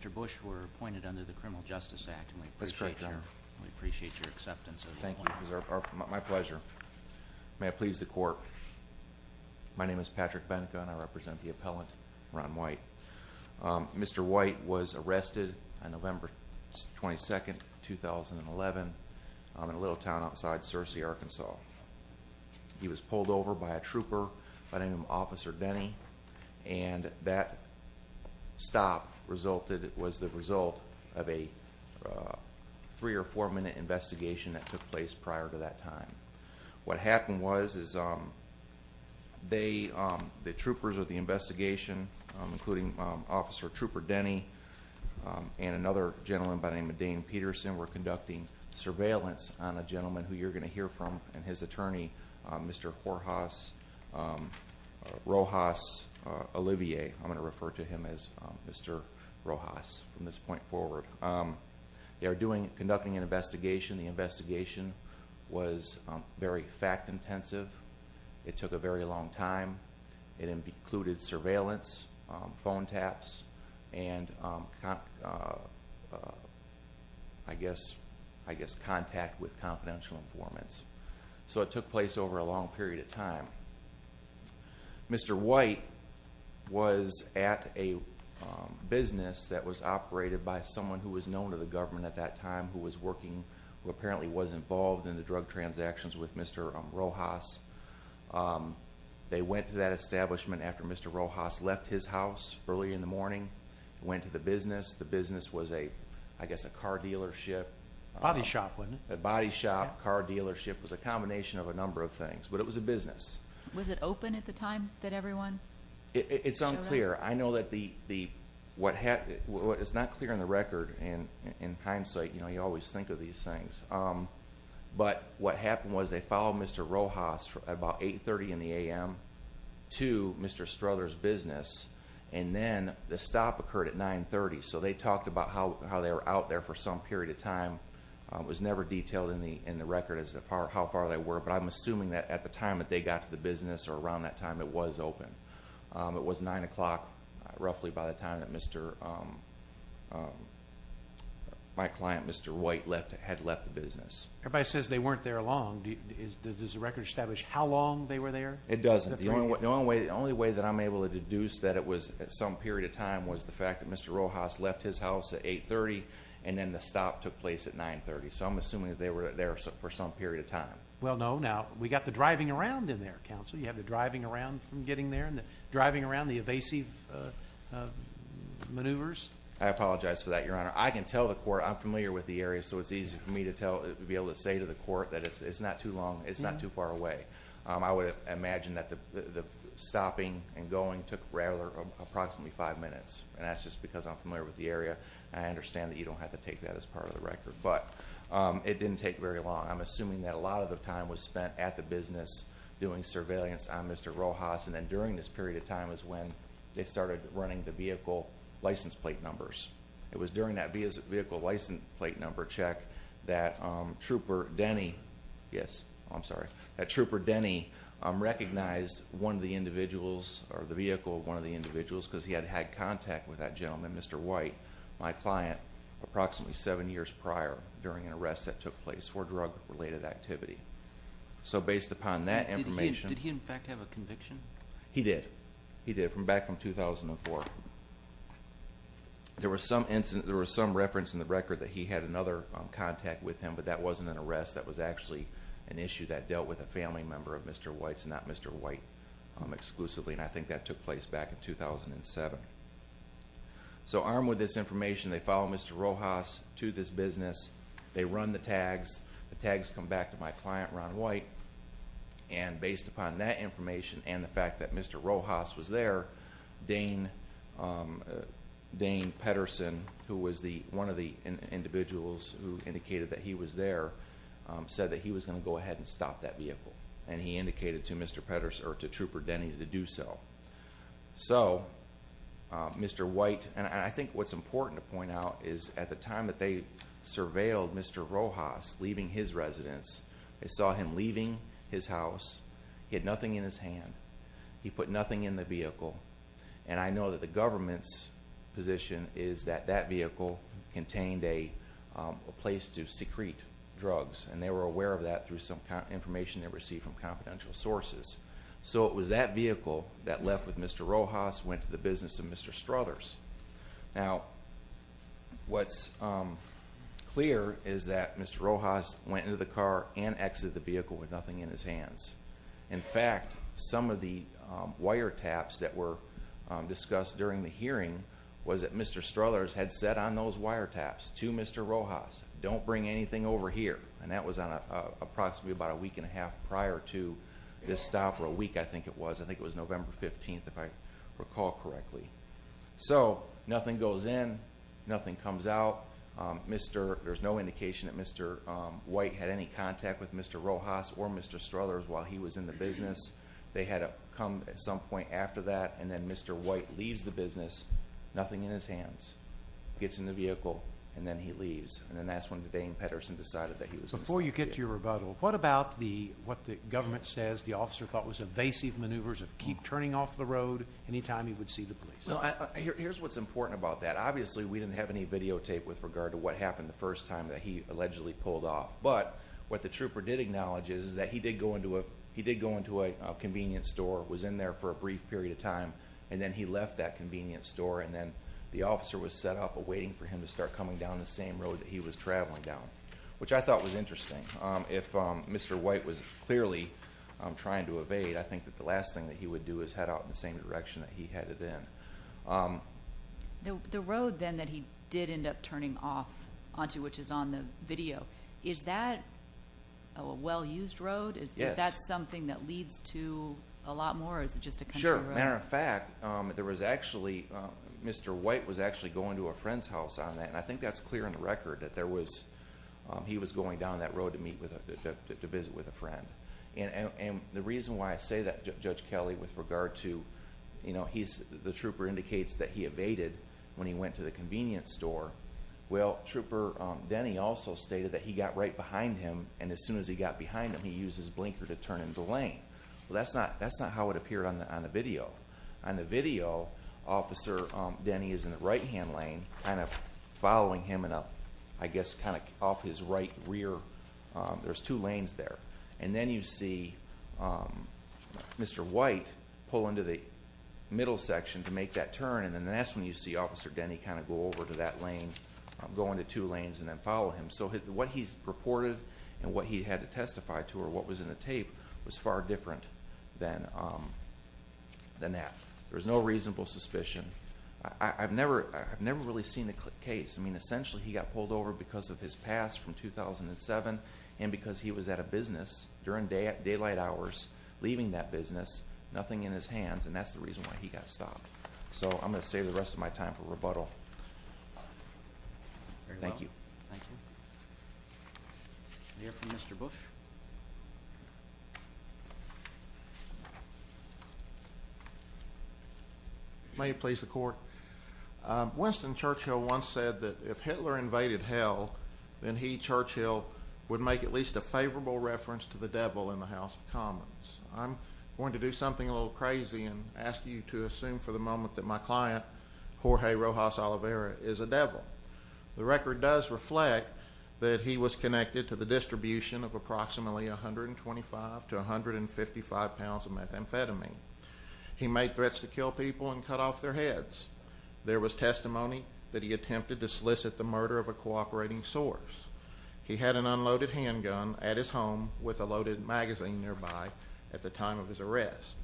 Mr. Bush, you were appointed under the Criminal Justice Act, and we appreciate your acceptance of the appointment. Thank you. It was my pleasure. May I please the court? My name is Patrick Benka, and I represent the appellant, Ron White. Mr. White was arrested on November 22, 2011, in a little town outside Searcy, Arkansas. He was pulled over by a trooper by the name of Officer Denny, and that stop was the result of a three- or four-minute investigation that took place prior to that time. What happened was the troopers of the investigation, including Officer Trooper Denny and another gentleman by the name of Dane Peterson, were conducting surveillance on a gentleman who you're going to hear from and his attorney, Mr. Rojas Olivier. I'm going to refer to him as Mr. Rojas from this point forward. They were conducting an investigation. The investigation was very fact-intensive. It took a very long time. It included surveillance, phone taps, and I guess contact with confidential informants. So it took place over a long period of time. Mr. White was at a business that was operated by someone who was known to the government at that time who was working, who apparently was involved in the drug transactions with Mr. Rojas. They went to that establishment after Mr. Rojas left his house early in the morning and went to the business. The business was, I guess, a car dealership. A body shop, wasn't it? A body shop, car dealership. It was a combination of a number of things, but it was a business. Was it open at the time that everyone showed up? It's unclear. I know that what happened is not clear on the record in hindsight. You always think of these things. But what happened was they followed Mr. Rojas about 8.30 in the a.m. to Mr. Struthers' business, and then the stop occurred at 9.30, so they talked about how they were out there for some period of time. It was never detailed in the record as to how far they were, but I'm assuming that at the time that they got to the business or around that time, it was open. It was 9 o'clock roughly by the time that my client, Mr. White, had left the business. Everybody says they weren't there long. Does the record establish how long they were there? It doesn't. The only way that I'm able to deduce that it was some period of time was the fact that Mr. Rojas left his house at 8.30, and then the stop took place at 9.30, so I'm assuming that they were there for some period of time. Well, no. Now, we got the driving around in there, counsel. You have the driving around from getting there and the driving around, the evasive maneuvers. I apologize for that, Your Honor. I can tell the court. I'm familiar with the area, so it's easy for me to be able to say to the court that it's not too long, it's not too far away. I would imagine that the stopping and going took approximately five minutes, and that's just because I'm familiar with the area. I understand that you don't have to take that as part of the record, but it didn't take very long. I'm assuming that a lot of the time was spent at the business doing surveillance on Mr. Rojas, and then during this period of time is when they started running the vehicle license plate numbers. It was during that vehicle license plate number check that Trooper Denny, yes, I'm sorry, that Trooper Denny recognized one of the individuals or the vehicle of one of the individuals because he had had contact with that gentleman, Mr. White, my client, approximately seven years prior during an arrest that took place for drug-related activity. So based upon that information. Did he, in fact, have a conviction? He did. He did, back from 2004. There was some reference in the record that he had another contact with him, but that wasn't an arrest. That was actually an issue that dealt with a family member of Mr. White's, not Mr. White exclusively, and I think that took place back in 2007. So armed with this information, they follow Mr. Rojas to this business. They run the tags. The tags come back to my client, Ron White, and based upon that information and the fact that Mr. Rojas was there, Dane Pettersen, who was one of the individuals who indicated that he was there, said that he was going to go ahead and stop that vehicle, and he indicated to Mr. Pettersen or to Trooper Denny to do so. So Mr. White, and I think what's important to point out is at the time that they surveilled Mr. Rojas leaving his residence, they saw him leaving his house. He had nothing in his hand. He put nothing in the vehicle, and I know that the government's position is that that vehicle contained a place to secrete drugs, and they were aware of that through some information they received from confidential sources. So it was that vehicle that left with Mr. Rojas, went to the business of Mr. Struthers. Now, what's clear is that Mr. Rojas went into the car and exited the vehicle with nothing in his hands. In fact, some of the wiretaps that were discussed during the hearing was that Mr. Struthers had said on those wiretaps to Mr. Rojas, don't bring anything over here. And that was on approximately about a week and a half prior to this stop, or a week I think it was. I think it was November 15th, if I recall correctly. So, nothing goes in, nothing comes out. There's no indication that Mr. White had any contact with Mr. Rojas or Mr. Struthers while he was in the business. They had come at some point after that, and then Mr. White leaves the business, nothing in his hands. Gets in the vehicle, and then he leaves. And that's when Dane Pedersen decided that he was going to stay. Before you get to your rebuttal, what about what the government says the officer thought was evasive maneuvers of keep turning off the road anytime he would see the police? Here's what's important about that. Obviously, we didn't have any videotape with regard to what happened the first time that he allegedly pulled off. But what the trooper did acknowledge is that he did go into a convenience store, was in there for a brief period of time, and then he left that convenience store. And then the officer was set up awaiting for him to start coming down the same road that he was traveling down, which I thought was interesting. If Mr. White was clearly trying to evade, I think that the last thing that he would do is head out in the same direction that he headed in. The road then that he did end up turning off onto, which is on the video, is that a well-used road? Yes. Is that something that leads to a lot more, or is it just a country road? Sure. Matter of fact, there was actually, Mr. White was actually going to a friend's house on that, and I think that's clear on the record that he was going down that road to visit with a friend. And the reason why I say that, Judge Kelly, with regard to the trooper indicates that he evaded when he went to the convenience store. Well, Trooper Denny also stated that he got right behind him, and as soon as he got behind him, he used his blinker to turn into lane. Well, that's not how it appeared on the video. On the video, Officer Denny is in the right-hand lane, kind of following him, and I guess kind of off his right rear. There's two lanes there. And then you see Mr. White pull into the middle section to make that turn, and then that's when you see Officer Denny kind of go over to that lane, go into two lanes, and then follow him. So what he's reported and what he had to testify to or what was in the tape was far different than that. There was no reasonable suspicion. I've never really seen the case. I mean, essentially, he got pulled over because of his past from 2007, and because he was at a business during daylight hours, leaving that business, nothing in his hands, and that's the reason why he got stopped. So I'm going to save the rest of my time for rebuttal. Thank you. Thank you. We'll hear from Mr. Bush. May it please the Court. Winston Churchill once said that if Hitler invaded hell, then he, Churchill, would make at least a favorable reference to the devil in the House of Commons. I'm going to do something a little crazy and ask you to assume for the moment that my client, Jorge Rojas Oliveira, is a devil. The record does reflect that he was connected to the distribution of approximately 125 to 155 pounds of methamphetamine. He made threats to kill people and cut off their heads. There was testimony that he attempted to solicit the murder of a cooperating source. He had an unloaded handgun at his home with a loaded magazine nearby at the time of his arrest.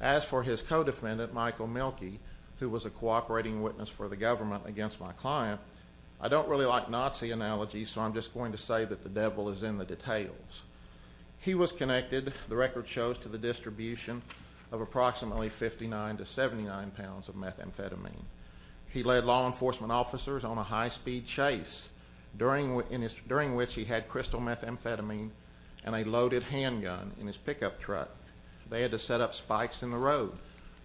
As for his co-defendant, Michael Mielke, who was a cooperating witness for the government against my client, I don't really like Nazi analogies, so I'm just going to say that the devil is in the details. He was connected, the record shows, to the distribution of approximately 59 to 79 pounds of methamphetamine. He led law enforcement officers on a high-speed chase, during which he had crystal methamphetamine and a loaded handgun in his pickup truck. They had to set up spikes in the road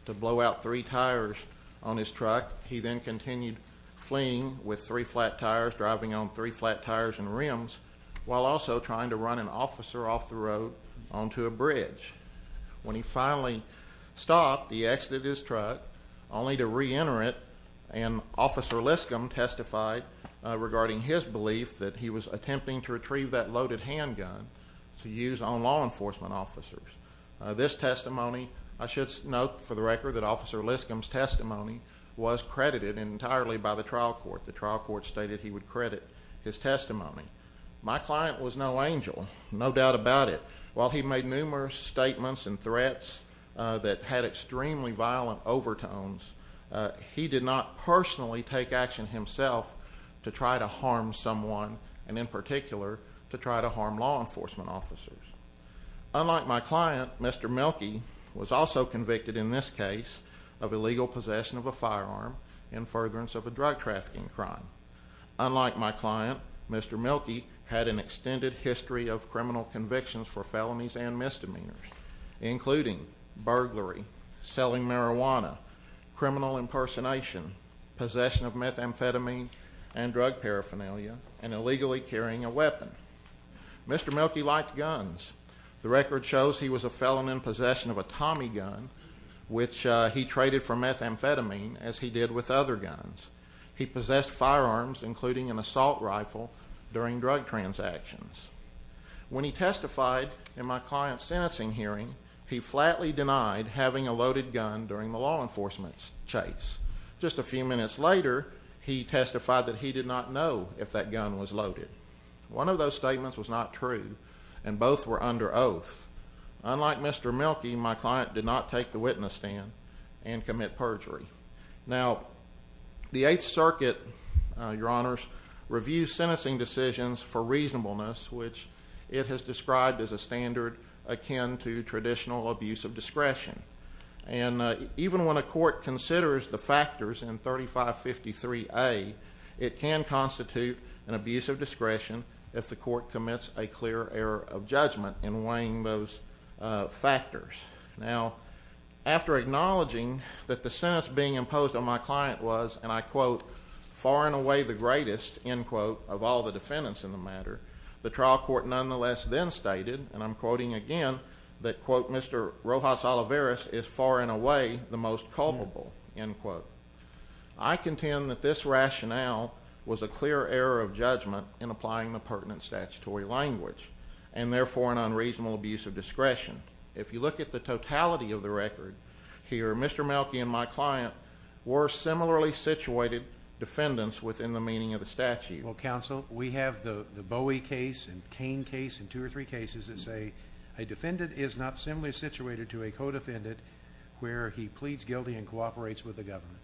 to blow out three tires on his truck. He then continued fleeing with three flat tires, driving on three flat tires and rims, while also trying to run an officer off the road onto a bridge. When he finally stopped, he exited his truck, only to reenter it, and Officer Liskam testified regarding his belief that he was attempting to retrieve that loaded handgun to use on law enforcement officers. This testimony, I should note for the record that Officer Liskam's testimony was credited entirely by the trial court. The trial court stated he would credit his testimony. My client was no angel, no doubt about it. While he made numerous statements and threats that had extremely violent overtones, he did not personally take action himself to try to harm someone, and in particular, to try to harm law enforcement officers. Unlike my client, Mr. Mielke was also convicted in this case of illegal possession of a firearm in furtherance of a drug trafficking crime. Unlike my client, Mr. Mielke had an extended history of criminal convictions for felonies and misdemeanors, including burglary, selling marijuana, criminal impersonation, possession of methamphetamine and drug paraphernalia, and illegally carrying a weapon. Mr. Mielke liked guns. The record shows he was a felon in possession of a Tommy gun, which he traded for methamphetamine, as he did with other guns. He possessed firearms, including an assault rifle, during drug transactions. When he testified in my client's sentencing hearing, he flatly denied having a loaded gun during the law enforcement chase. Just a few minutes later, he testified that he did not know if that gun was loaded. One of those statements was not true, and both were under oath. Unlike Mr. Mielke, my client did not take the witness stand and commit perjury. Now, the Eighth Circuit, Your Honors, reviews sentencing decisions for reasonableness, which it has described as a standard akin to traditional abuse of discretion. And even when a court considers the factors in 3553A, it can constitute an abuse of discretion if the court commits a clear error of judgment in weighing those factors. Now, after acknowledging that the sentence being imposed on my client was, and I quote, far and away the greatest, end quote, of all the defendants in the matter, the trial court nonetheless then stated, and I'm quoting again, that, quote, Mr. Rojas Olivares is far and away the most culpable, end quote. I contend that this rationale was a clear error of judgment in applying the pertinent statutory language, and therefore an unreasonable abuse of discretion. If you look at the totality of the record here, Mr. Mielke and my client were similarly situated defendants within the meaning of the statute. Well, counsel, we have the Bowie case and Kane case and two or three cases that say a defendant is not similarly situated to a co-defendant where he pleads guilty and cooperates with the government.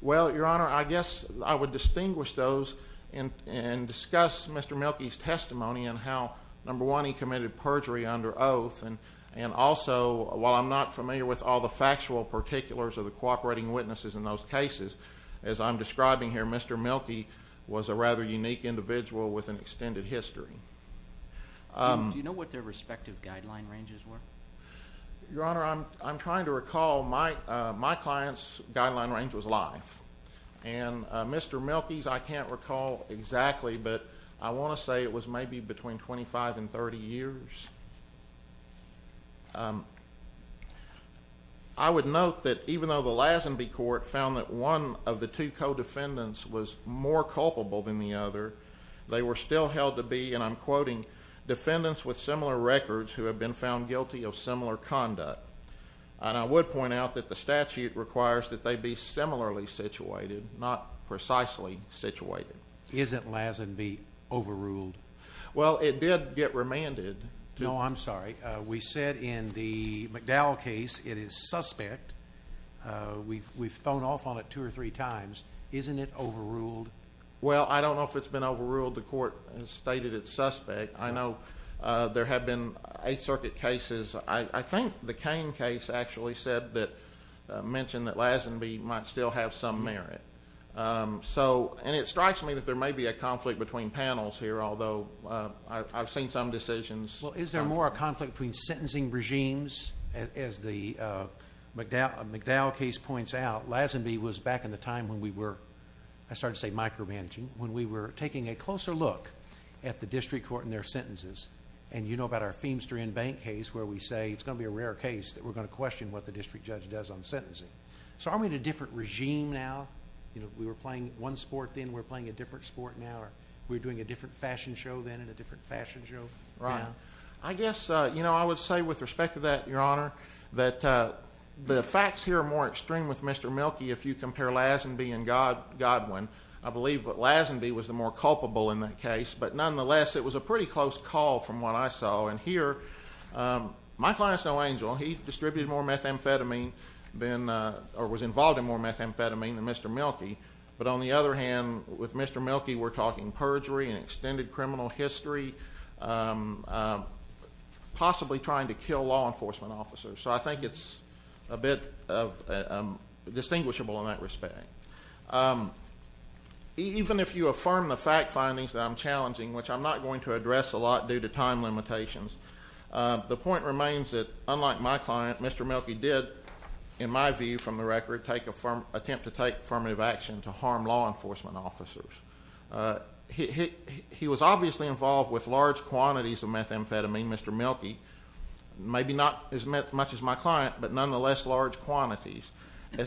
Well, Your Honor, I guess I would distinguish those and discuss Mr. Mielke's testimony and how, number one, he committed perjury under oath. And also, while I'm not familiar with all the factual particulars of the cooperating witnesses in those cases, as I'm describing here, Mr. Mielke was a rather unique individual with an extended history. Do you know what their respective guideline ranges were? Your Honor, I'm trying to recall. My client's guideline range was life. And Mr. Mielke's I can't recall exactly, but I want to say it was maybe between 25 and 30 years. I would note that even though the Lazenby Court found that one of the two co-defendants was more culpable than the other, they were still held to be, and I'm quoting, defendants with similar records who have been found guilty of similar conduct. And I would point out that the statute requires that they be similarly situated, not precisely situated. Isn't Lazenby overruled? Well, it did get remanded. No, I'm sorry. We said in the McDowell case it is suspect. We've thrown off on it two or three times. Isn't it overruled? Well, I don't know if it's been overruled. The court has stated it's suspect. I know there have been Eighth Circuit cases. I think the Cain case actually mentioned that Lazenby might still have some merit. And it strikes me that there may be a conflict between panels here, although I've seen some decisions. Well, is there more of a conflict between sentencing regimes? As the McDowell case points out, Lazenby was back in the time when we were, I started to say micromanaging, when we were taking a closer look at the district court and their sentences. And you know about our Feimster and Bank case where we say it's going to be a rare case that we're going to question what the district judge does on sentencing. So are we in a different regime now? You know, we were playing one sport then. We're playing a different sport now. We're doing a different fashion show then and a different fashion show now. Right. I guess, you know, I would say with respect to that, Your Honor, that the facts here are more extreme with Mr. Milkey if you compare Lazenby and Godwin. I believe that Lazenby was the more culpable in that case. But nonetheless, it was a pretty close call from what I saw. And here, my client is no angel. He distributed more methamphetamine than or was involved in more methamphetamine than Mr. Milkey. But on the other hand, with Mr. Milkey, we're talking perjury and extended criminal history, possibly trying to kill law enforcement officers. So I think it's a bit distinguishable in that respect. Even if you affirm the fact findings that I'm challenging, which I'm not going to address a lot due to time limitations, the point remains that, unlike my client, Mr. Milkey did, in my view from the record, attempt to take affirmative action to harm law enforcement officers. He was obviously involved with large quantities of methamphetamine, Mr. Milkey. Maybe not as much as my client, but nonetheless large quantities.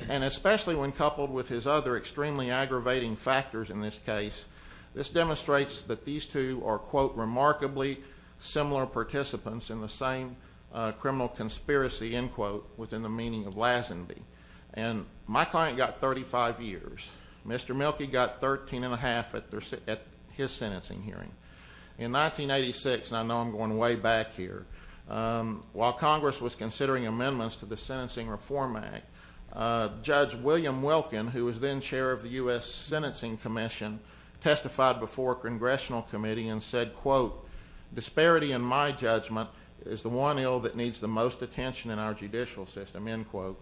And especially when coupled with his other extremely aggravating factors in this case, this demonstrates that these two are, quote, remarkably similar participants in the same criminal conspiracy, end quote, within the meaning of Lazenby. And my client got 35 years. Mr. Milkey got 13 and a half at his sentencing hearing. In 1986, and I know I'm going way back here, while Congress was considering amendments to the Sentencing Reform Act, Judge William Wilkin, who was then chair of the U.S. Sentencing Commission, testified before a congressional committee and said, quote, disparity in my judgment is the one ill that needs the most attention in our judicial system, end quote.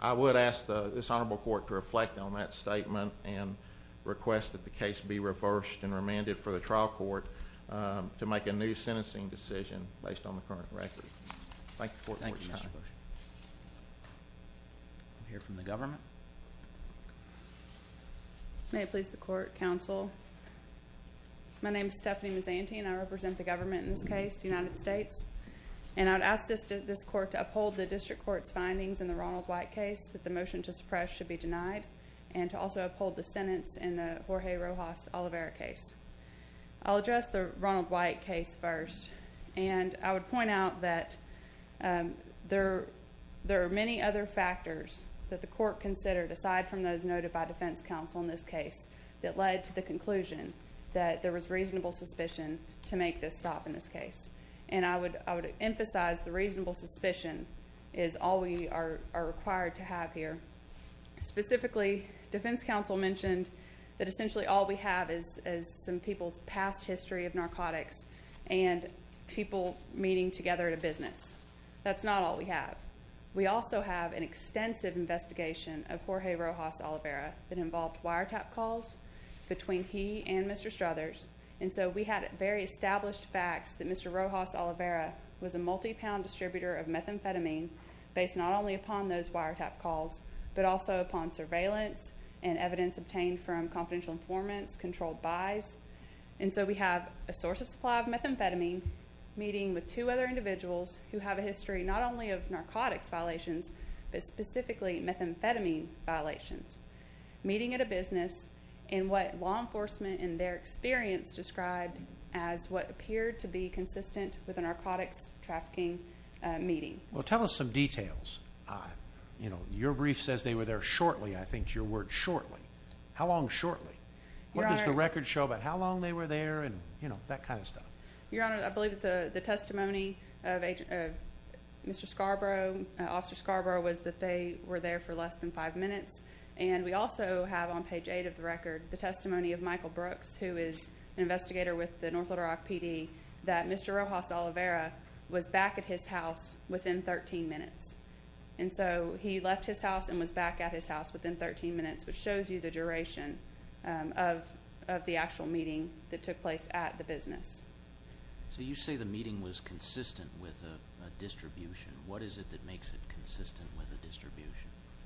I would ask this honorable court to reflect on that statement and request that the case be reversed and remanded for the trial court to make a new sentencing decision based on the current record. Thank you. Thank you, Mr. Bush. We'll hear from the government. May it please the court, counsel. My name is Stephanie Mazanti, and I represent the government in this case, the United States. And I would ask this court to uphold the district court's findings in the Ronald White case that the motion to suppress should be denied, and to also uphold the sentence in the Jorge Rojas Oliveira case. I'll address the Ronald White case first. And I would point out that there are many other factors that the court considered, aside from those noted by defense counsel in this case, that led to the conclusion that there was reasonable suspicion to make this stop in this case. And I would emphasize the reasonable suspicion is all we are required to have here. Specifically, defense counsel mentioned that essentially all we have is some people's past history of narcotics and people meeting together at a business. That's not all we have. We also have an extensive investigation of Jorge Rojas Oliveira that involved wiretap calls between he and Mr. Struthers. And so we had very established facts that Mr. Rojas Oliveira was a multi-pound distributor of methamphetamine based not only upon those wiretap calls, but also upon surveillance and evidence obtained from confidential informants, controlled buys. And so we have a source of supply of methamphetamine meeting with two other individuals who have a history not only of narcotics violations, but specifically methamphetamine violations, meeting at a business, and what law enforcement in their experience described as what appeared to be consistent with a narcotics trafficking meeting. Well, tell us some details. You know, your brief says they were there shortly. I think your word, shortly. How long shortly? What does the record show about how long they were there and, you know, that kind of stuff? Your Honor, I believe that the testimony of Mr. Scarborough, Officer Scarborough, was that they were there for less than five minutes. And we also have on page 8 of the record the testimony of Michael Brooks, who is an investigator with the North Little Rock PD, that Mr. Rojas Oliveira was back at his house within 13 minutes. And so he left his house and was back at his house within 13 minutes, which shows you the duration of the actual meeting that took place at the business. So you say the meeting was consistent with a distribution. What is it that makes it consistent with a distribution?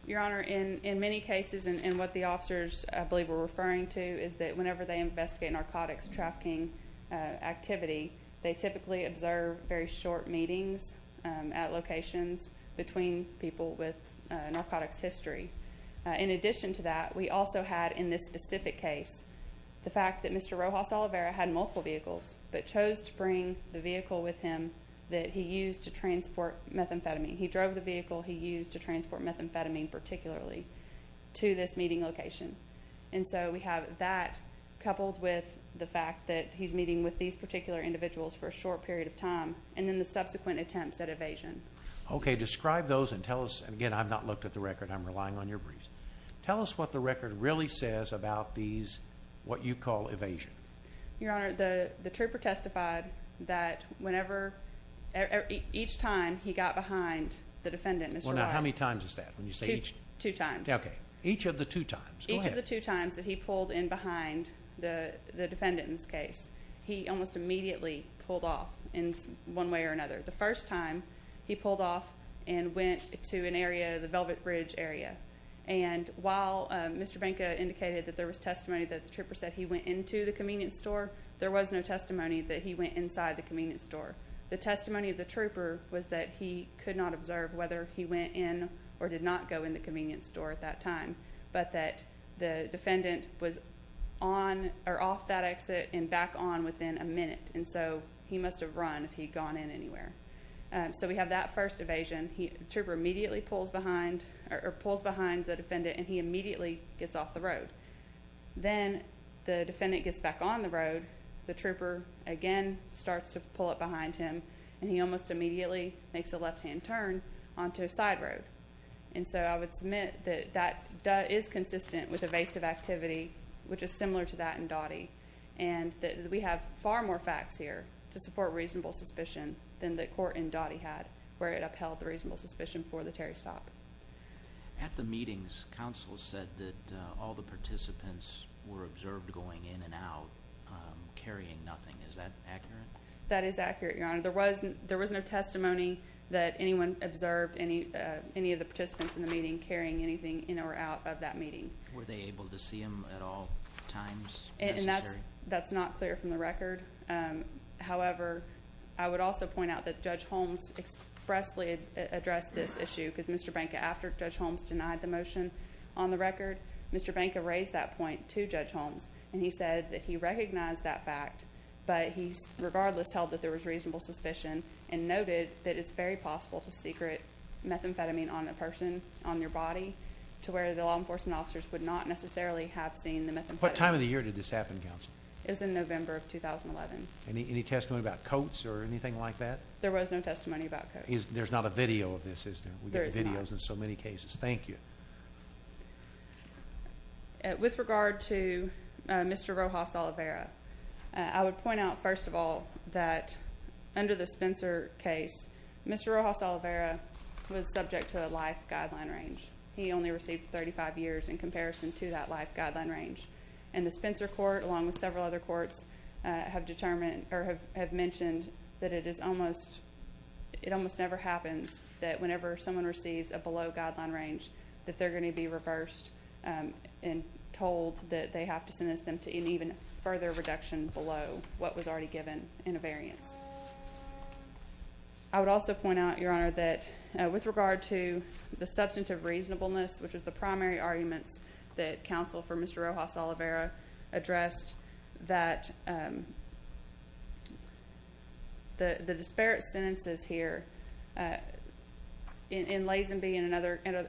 Your Honor, in many cases, and what the officers, I believe, were referring to, is that whenever they investigate narcotics trafficking activity, they typically observe very short meetings at locations between people with narcotics history. In addition to that, we also had, in this specific case, the fact that Mr. Rojas Oliveira had multiple vehicles, but chose to bring the vehicle with him that he used to transport methamphetamine. He drove the vehicle he used to transport methamphetamine particularly to this meeting location. And so we have that coupled with the fact that he's meeting with these particular individuals for a short period of time and then the subsequent attempts at evasion. Okay. Describe those and tell us, and again, I've not looked at the record. I'm relying on your briefs. Tell us what the record really says about these, what you call evasion. Your Honor, the trooper testified that whenever, each time he got behind the defendant, Mr. Rojas. Well, now, how many times is that when you say each? Two times. Okay. Each of the two times. Go ahead. Each of the two times that he pulled in behind the defendant in this case, he almost immediately pulled off in one way or another. The first time, he pulled off and went to an area, the Velvet Bridge area. And while Mr. Benka indicated that there was testimony that the trooper said he went into the convenience store, there was no testimony that he went inside the convenience store. The testimony of the trooper was that he could not observe whether he went in or did not go in the convenience store at that time, but that the defendant was on or off that exit and back on within a minute. And so he must have run if he had gone in anywhere. So we have that first evasion. Trooper immediately pulls behind the defendant, and he immediately gets off the road. Then the defendant gets back on the road. The trooper, again, starts to pull up behind him, and he almost immediately makes a left-hand turn onto a side road. And so I would submit that that is consistent with evasive activity, which is similar to that in Dottie, and that we have far more facts here to support reasonable suspicion than the court in Dottie had where it upheld the reasonable suspicion for the Terry stop. At the meetings, counsel said that all the participants were observed going in and out, carrying nothing. Is that accurate? That is accurate, Your Honor. There was no testimony that anyone observed any of the participants in the meeting carrying anything in or out of that meeting. Were they able to see him at all times necessary? That's not clear from the record. However, I would also point out that Judge Holmes expressly addressed this issue because Mr. Benka, after Judge Holmes denied the motion on the record, Mr. Benka raised that point to Judge Holmes, and he said that he recognized that fact, but he regardless held that there was reasonable suspicion and noted that it's very possible to secret methamphetamine on a person, on their body, to where the law enforcement officers would not necessarily have seen the methamphetamine. What time of the year did this happen, counsel? It was in November of 2011. Any testimony about coats or anything like that? There was no testimony about coats. There's not a video of this, is there? There is not. We get videos in so many cases. Thank you. With regard to Mr. Rojas-Oliveira, I would point out, first of all, that under the Spencer case, Mr. Rojas-Oliveira was subject to a life guideline range. He only received 35 years in comparison to that life guideline range. And the Spencer court, along with several other courts, have determined or have mentioned that it almost never happens that whenever someone receives a below guideline range that they're going to be reversed and told that they have to sentence them to an even further reduction below what was already given in a variance. I would also point out, Your Honor, that with regard to the substantive reasonableness, which was the primary arguments that counsel for Mr. Rojas-Oliveira addressed, that the disparate sentences here in Lazenby and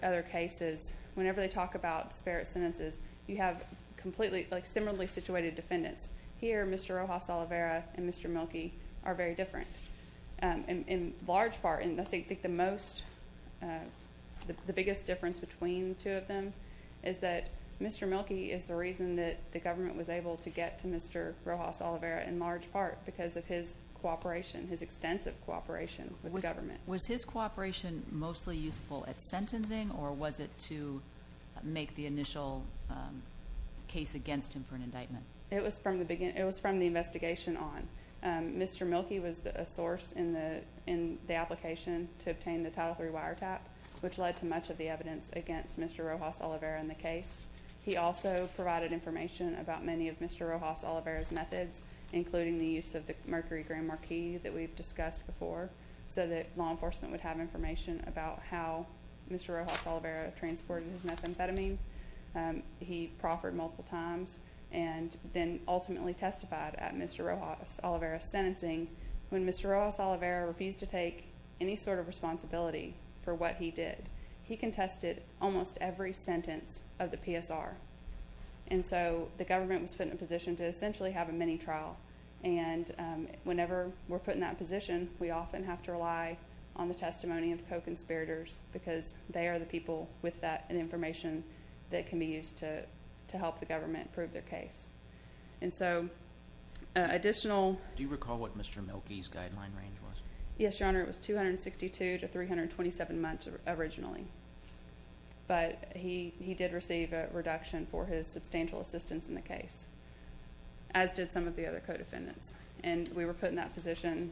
other cases, whenever they talk about disparate sentences, you have completely similarly situated defendants. Here, Mr. Rojas-Oliveira and Mr. Mielke are very different. In large part, and I think the biggest difference between the two of them is that Mr. Mielke is the reason that the government was able to get to Mr. Rojas-Oliveira in large part because of his cooperation, his extensive cooperation with the government. Was his cooperation mostly useful at sentencing, or was it to make the initial case against him for an indictment? It was from the investigation on. Mr. Mielke was a source in the application to obtain the Title III wiretap, which led to much of the evidence against Mr. Rojas-Oliveira in the case. He also provided information about many of Mr. Rojas-Oliveira's methods, including the use of the Mercury Grand Marquis that we've discussed before, so that law enforcement would have information about how Mr. Rojas-Oliveira transported his methamphetamine. He proffered multiple times and then ultimately testified at Mr. Rojas-Oliveira's sentencing. When Mr. Rojas-Oliveira refused to take any sort of responsibility for what he did, he contested almost every sentence of the PSR. And so the government was put in a position to essentially have a mini-trial, and whenever we're put in that position, we often have to rely on the testimony of co-conspirators because they are the people with that information that can be used to help the government prove their case. And so additional… Do you recall what Mr. Mielke's guideline range was? Yes, Your Honor, it was 262 to 327 months originally, but he did receive a reduction for his substantial assistance in the case, as did some of the other co-defendants. And we were put in that position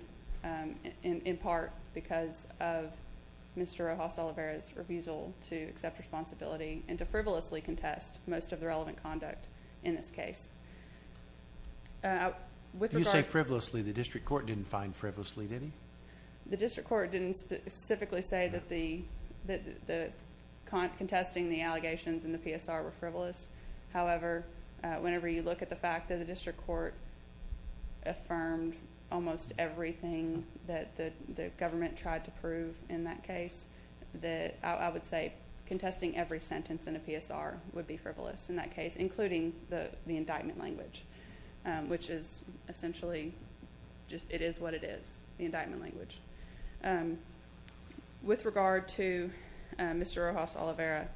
in part because of Mr. Rojas-Oliveira's refusal to accept responsibility and to frivolously contest most of the relevant conduct in this case. When you say frivolously, the district court didn't find frivolously, did he? The district court didn't specifically say that contesting the allegations in the PSR were frivolous. However, whenever you look at the fact that the district court affirmed almost everything that the government tried to prove in that case, I would say contesting every sentence in a PSR would be frivolous in that case, including the indictment language, which is essentially just it is what it is, the indictment language. With regard to Mr. Rojas-Oliveira,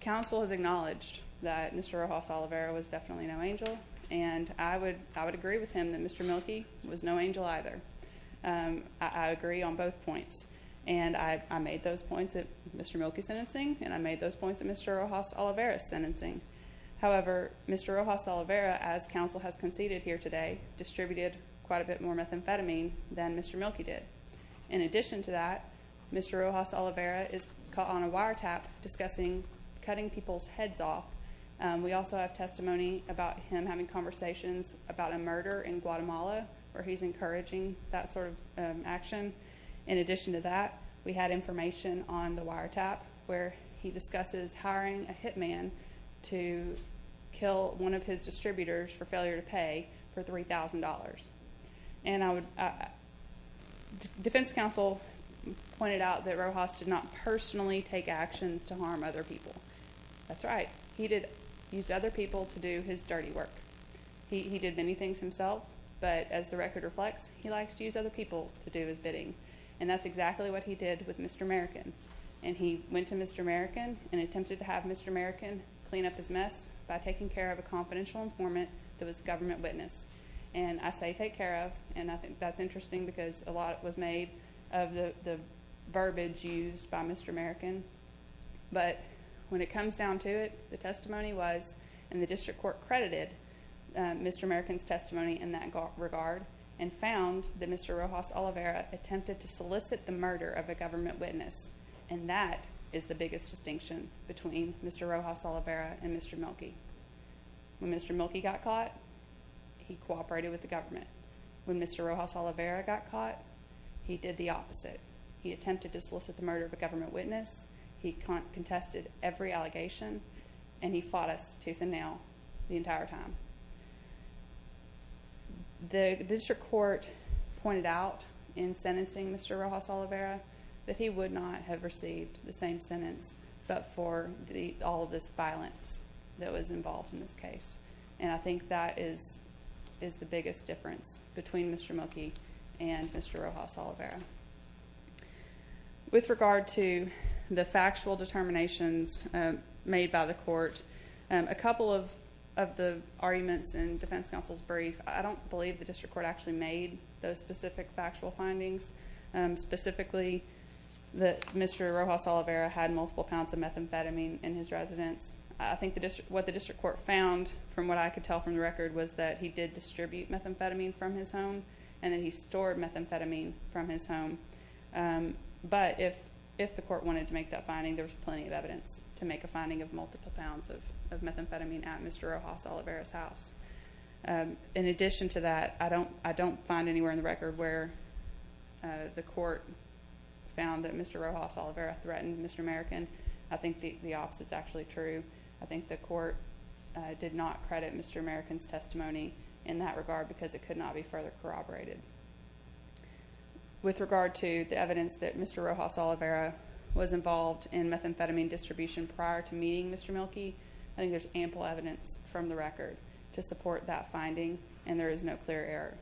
counsel has acknowledged that Mr. Rojas-Oliveira was definitely no angel, and I would agree with him that Mr. Mielke was no angel either. I agree on both points, and I made those points at Mr. Mielke's sentencing, and I made those points at Mr. Rojas-Oliveira's sentencing. However, Mr. Rojas-Oliveira, as counsel has conceded here today, distributed quite a bit more methamphetamine than Mr. Mielke did. In addition to that, Mr. Rojas-Oliveira is caught on a wiretap discussing cutting people's heads off. We also have testimony about him having conversations about a murder in Guatemala where he's encouraging that sort of action. In addition to that, we had information on the wiretap where he discusses hiring a hitman to kill one of his distributors for failure to pay for $3,000. And defense counsel pointed out that Rojas did not personally take actions to harm other people. That's right. He used other people to do his dirty work. He did many things himself, but as the record reflects, he likes to use other people to do his bidding, and that's exactly what he did with Mr. American. And he went to Mr. American and attempted to have Mr. American clean up his mess by taking care of a confidential informant that was a government witness. And I say take care of, and I think that's interesting because a lot was made of the verbiage used by Mr. American. But when it comes down to it, the testimony was, and the district court credited Mr. American's testimony in that regard and found that Mr. Rojas Oliveira attempted to solicit the murder of a government witness, and that is the biggest distinction between Mr. Rojas Oliveira and Mr. Mielke. When Mr. Mielke got caught, he cooperated with the government. When Mr. Rojas Oliveira got caught, he did the opposite. He attempted to solicit the murder of a government witness. He contested every allegation, and he fought us tooth and nail the entire time. The district court pointed out in sentencing Mr. Rojas Oliveira that he would not have received the same sentence but for all of this violence that was involved in this case. And I think that is the biggest difference between Mr. Mielke and Mr. Rojas Oliveira. With regard to the factual determinations made by the court, a couple of the arguments in defense counsel's brief, I don't believe the district court actually made those specific factual findings. Specifically, Mr. Rojas Oliveira had multiple pounds of methamphetamine in his residence. I think what the district court found from what I could tell from the record was that he did distribute methamphetamine from his home, and then he stored methamphetamine from his home. But if the court wanted to make that finding, there was plenty of evidence to make a finding of multiple pounds of methamphetamine at Mr. Rojas Oliveira's house. In addition to that, I don't find anywhere in the record where the court found that Mr. Rojas Oliveira threatened Mr. American. I think the opposite is actually true. I think the court did not credit Mr. American's testimony in that regard because it could not be further corroborated. With regard to the evidence that Mr. Rojas Oliveira was involved in methamphetamine distribution prior to meeting Mr. Mielke, I think there's ample evidence from the record to support that finding, and there is no clear error.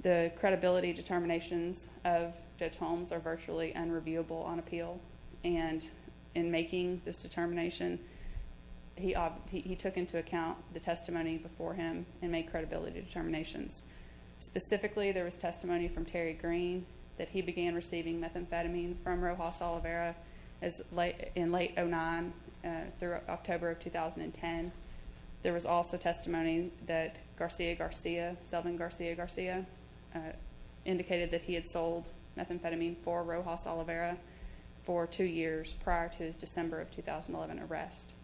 The credibility determinations of Judge Holmes are virtually unreviewable on appeal, and in making this determination, he took into account the testimony before him and made credibility determinations. Specifically, there was testimony from Terry Green that he began receiving methamphetamine from Rojas Oliveira in late 2009 through October of 2010. There was also testimony that Garcia Garcia, Selvin Garcia Garcia, indicated that he had sold methamphetamine for Rojas Oliveira for two years prior to his December of 2011 arrest.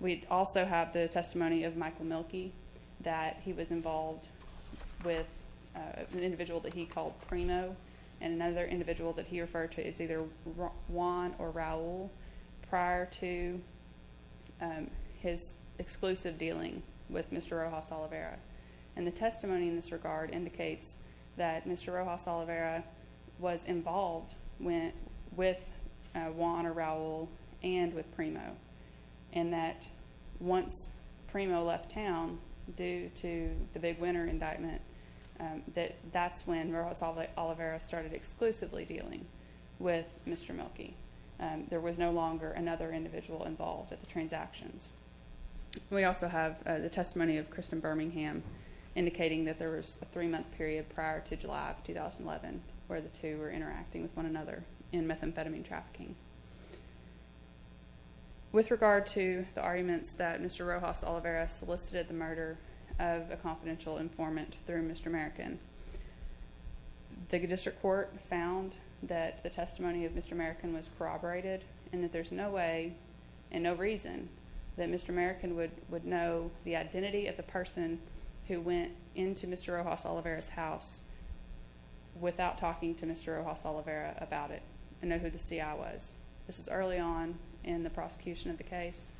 We also have the testimony of Michael Mielke that he was involved with an individual that he called Primo, and another individual that he referred to as either Juan or Raul prior to his exclusive dealing with Mr. Rojas Oliveira. And the testimony in this regard indicates that Mr. Rojas Oliveira was involved with Juan or Raul and with Primo, and that once Primo left town due to the big winter indictment, that that's when Rojas Oliveira started exclusively dealing with Mr. Mielke. There was no longer another individual involved at the transactions. We also have the testimony of Kristen Birmingham, indicating that there was a three-month period prior to July of 2011 where the two were interacting with one another in methamphetamine trafficking. With regard to the arguments that Mr. Rojas Oliveira solicited the murder of a confidential informant through Mr. American, the district court found that the testimony of Mr. American was corroborated and that there's no way and no reason that Mr. American would know the identity of the person who went into Mr. Rojas Oliveira's house without talking to Mr. Rojas Oliveira about it and know who the C.I. was. This is early on in the prosecution of the case.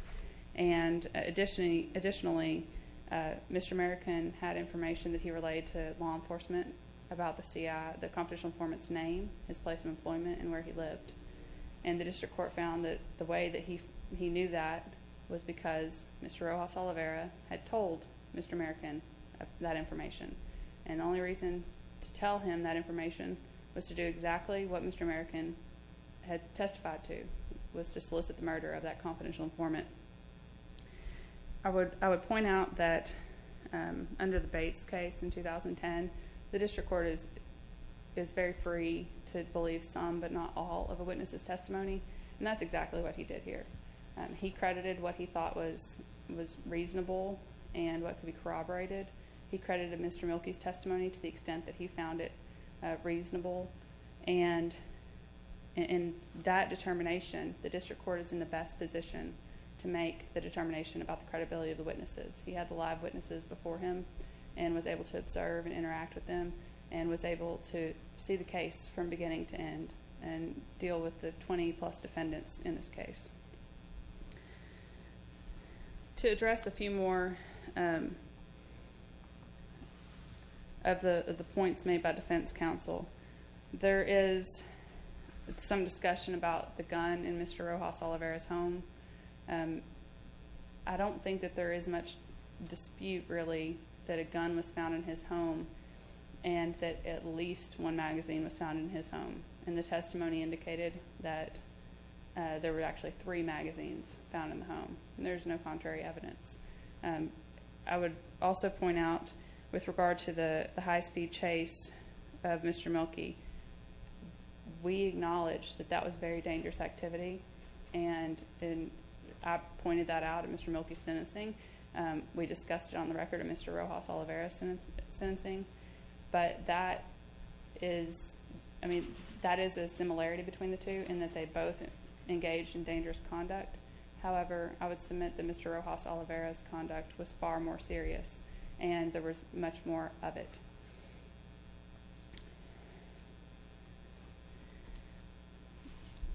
And additionally, Mr. American had information that he relayed to law enforcement about the C.I., the confidential informant's name, his place of employment, and where he lived. And the district court found that the way that he knew that was because Mr. Rojas Oliveira had told Mr. American that information. And the only reason to tell him that information was to do exactly what Mr. American had testified to, was to solicit the murder of that confidential informant. I would point out that under the Bates case in 2010, the district court is very free to believe some but not all of a witness's testimony, and that's exactly what he did here. He credited what he thought was reasonable and what could be corroborated. He credited Mr. Mielke's testimony to the extent that he found it reasonable. And in that determination, the district court is in the best position to make the determination about the credibility of the witnesses. He had the live witnesses before him and was able to observe and interact with them and was able to see the case from beginning to end and deal with the 20-plus defendants in this case. To address a few more of the points made by defense counsel, there is some discussion about the gun in Mr. Rojas Oliveira's home. I don't think that there is much dispute, really, that a gun was found in his home and that at least one magazine was found in his home. And the testimony indicated that there were actually three magazines found in the home. There's no contrary evidence. I would also point out, with regard to the high-speed chase of Mr. Mielke, we acknowledge that that was very dangerous activity, and I pointed that out in Mr. Mielke's sentencing. We discussed it on the record in Mr. Rojas Oliveira's sentencing. But that is a similarity between the two in that they both engaged in dangerous conduct. However, I would submit that Mr. Rojas Oliveira's conduct was far more serious, and there was much more of it.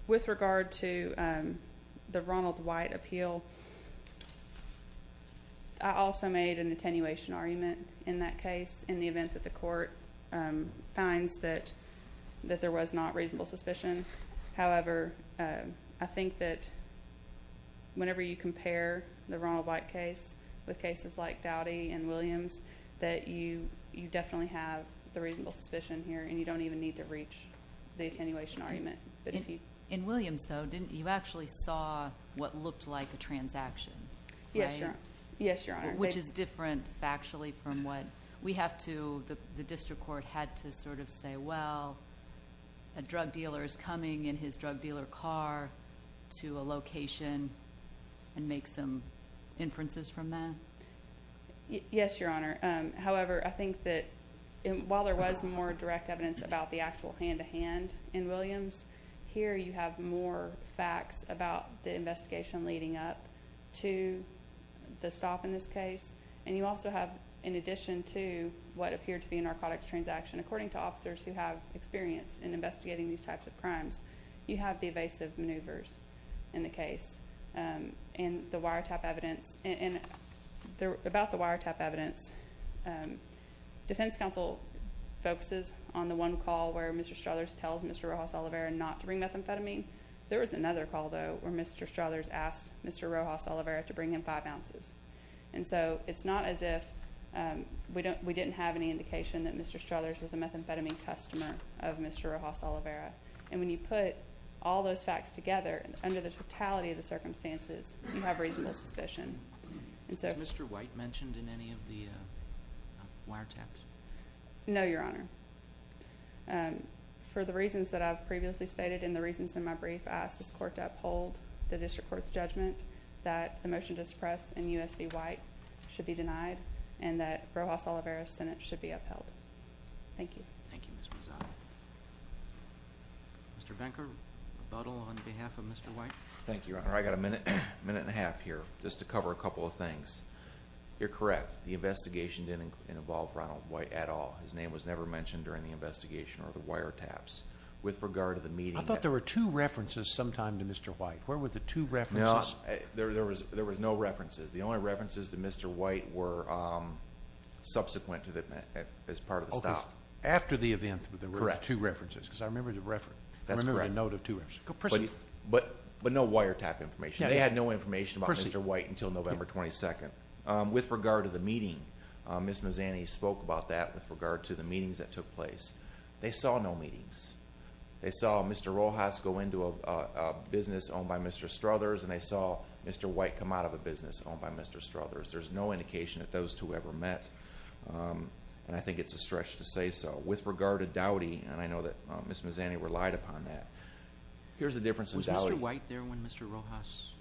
With regard to the Ronald White appeal, I also made an attenuation argument in that case in the event that the court finds that there was not reasonable suspicion. However, I think that whenever you compare the Ronald White case with cases like Dowdy and Williams, that you definitely have the reasonable suspicion here, and you don't even need to reach the attenuation argument. In Williams, though, didn't you actually saw what looked like a transaction? Yes, Your Honor. Which is different factually from what we have to, the district court had to sort of say, well, a drug dealer is coming in his drug dealer car to a location and make some inferences from that? Yes, Your Honor. However, I think that while there was more direct evidence about the actual hand-to-hand in Williams, here you have more facts about the investigation leading up to the stop in this case. And you also have, in addition to what appeared to be a narcotics transaction, according to officers who have experience in investigating these types of crimes, you have the evasive maneuvers in the case and the wiretap evidence. About the wiretap evidence, defense counsel focuses on the one call where Mr. Struthers tells Mr. Rojas-Oliveira not to bring methamphetamine. There was another call, though, where Mr. Struthers asked Mr. Rojas-Oliveira to bring him five ounces. And so it's not as if we didn't have any indication that Mr. Struthers was a methamphetamine customer of Mr. Rojas-Oliveira. And when you put all those facts together, under the totality of the circumstances, you have reasonable suspicion. Has Mr. White mentioned in any of the wiretaps? No, Your Honor. For the reasons that I've previously stated and the reasons in my brief, I ask this court to uphold the district court's judgment that the motion to suppress in U.S. v. White should be denied and that Rojas-Oliveira's sentence should be upheld. Thank you. Thank you, Ms. Rosado. Mr. Venker, rebuttal on behalf of Mr. White. Thank you, Your Honor. I've got a minute and a half here just to cover a couple of things. You're correct. The investigation didn't involve Ronald White at all. His name was never mentioned during the investigation or the wiretaps. With regard to the meeting that- I thought there were two references sometime to Mr. White. Where were the two references? No, there were no references. The only references to Mr. White were subsequent as part of the stop. After the event, there were two references because I remember the note of two references. But no wiretap information. They had no information about Mr. White until November 22. With regard to the meeting, Ms. Mazzani spoke about that with regard to the meetings that took place. They saw no meetings. They saw Mr. Rojas go into a business owned by Mr. Struthers and they saw Mr. White come out of a business owned by Mr. Struthers. There's no indication that those two ever met. I think it's a stretch to say so. With regard to Dowdy, and I know that Ms. Mazzani relied upon that. Here's the difference in Dowdy- Was Mr. White there when Mr. Rojas-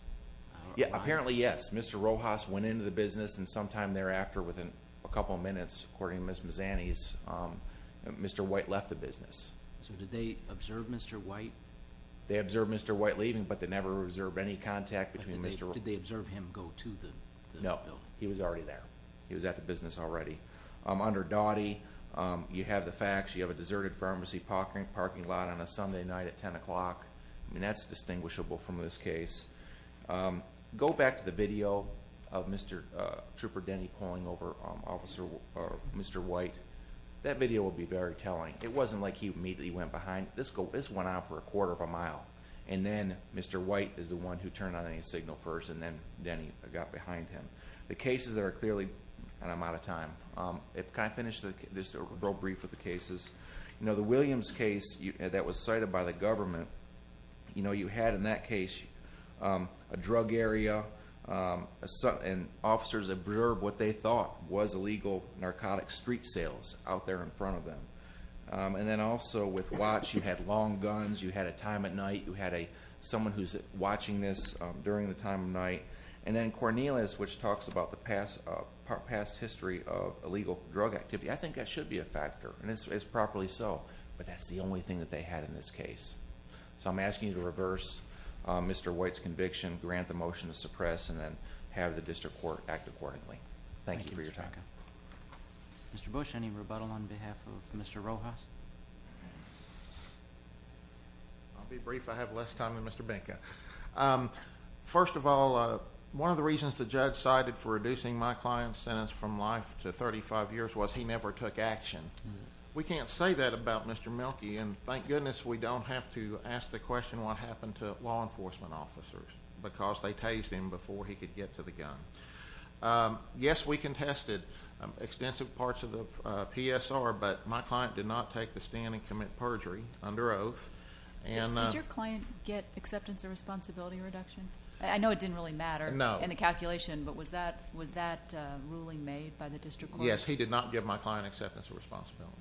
Apparently, yes. Mr. Rojas went into the business and sometime thereafter, within a couple of minutes, according to Ms. Mazzani's, Mr. White left the business. Did they observe Mr. White? They observed Mr. White leaving, but they never observed any contact between Mr.- Did they observe him go to the building? No. He was already there. He was at the business already. Under Dowdy, you have the facts. You have a deserted pharmacy parking lot on a Sunday night at 10 o'clock. That's distinguishable from this case. Go back to the video of Mr. Trooper Denny pulling over Mr. White. That video will be very telling. It wasn't like he immediately went behind. This went on for a quarter of a mile, and then Mr. White is the one who turned on any signal first, and then Denny got behind him. The cases that are clearly- I'm out of time. Can I finish this real brief with the cases? The Williams case that was cited by the government, you had in that case a drug area, and officers observed what they thought was illegal narcotic street sales out there in front of them. Then also with Watts, you had long guns. You had a time at night. You had someone who's watching this during the time of night. Then Cornelius, which talks about the past history of illegal drug activity. I think that should be a factor, and it's properly so, but that's the only thing that they had in this case. I'm asking you to reverse Mr. White's conviction, grant the motion to suppress, and then have the district court act accordingly. Thank you for your time. Okay. Mr. Bush, any rebuttal on behalf of Mr. Rojas? I'll be brief. I have less time than Mr. Benka. First of all, one of the reasons the judge cited for reducing my client's sentence from life to 35 years was he never took action. We can't say that about Mr. Mielke, and thank goodness we don't have to ask the question what happened to law enforcement officers because they tased him before he could get to the gun. Yes, we contested extensive parts of the PSR, but my client did not take the stand and commit perjury under oath. Did your client get acceptance or responsibility reduction? I know it didn't really matter in the calculation, but was that ruling made by the district court? Yes, he did not give my client acceptance or responsibility.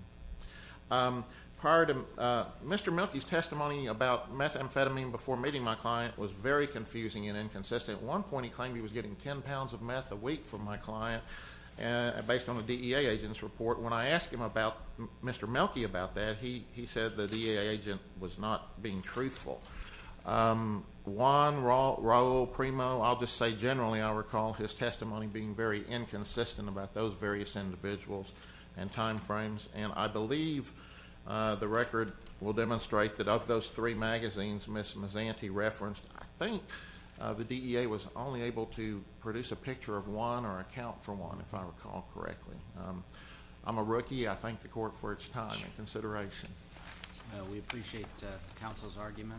Mr. Mielke's testimony about methamphetamine before meeting my client was very confusing and inconsistent. At one point he claimed he was getting 10 pounds of meth a week from my client based on the DEA agent's report. When I asked him about Mr. Mielke about that, he said the DEA agent was not being truthful. Juan, Raul, Primo, I'll just say generally I recall his testimony being very inconsistent about those various individuals and time frames, and I believe the record will demonstrate that of those three magazines Ms. Mazzanti referenced, I think the DEA was only able to produce a picture of one or account for one, if I recall correctly. I'm a rookie. I thank the court for its time and consideration. We appreciate counsel's arguments.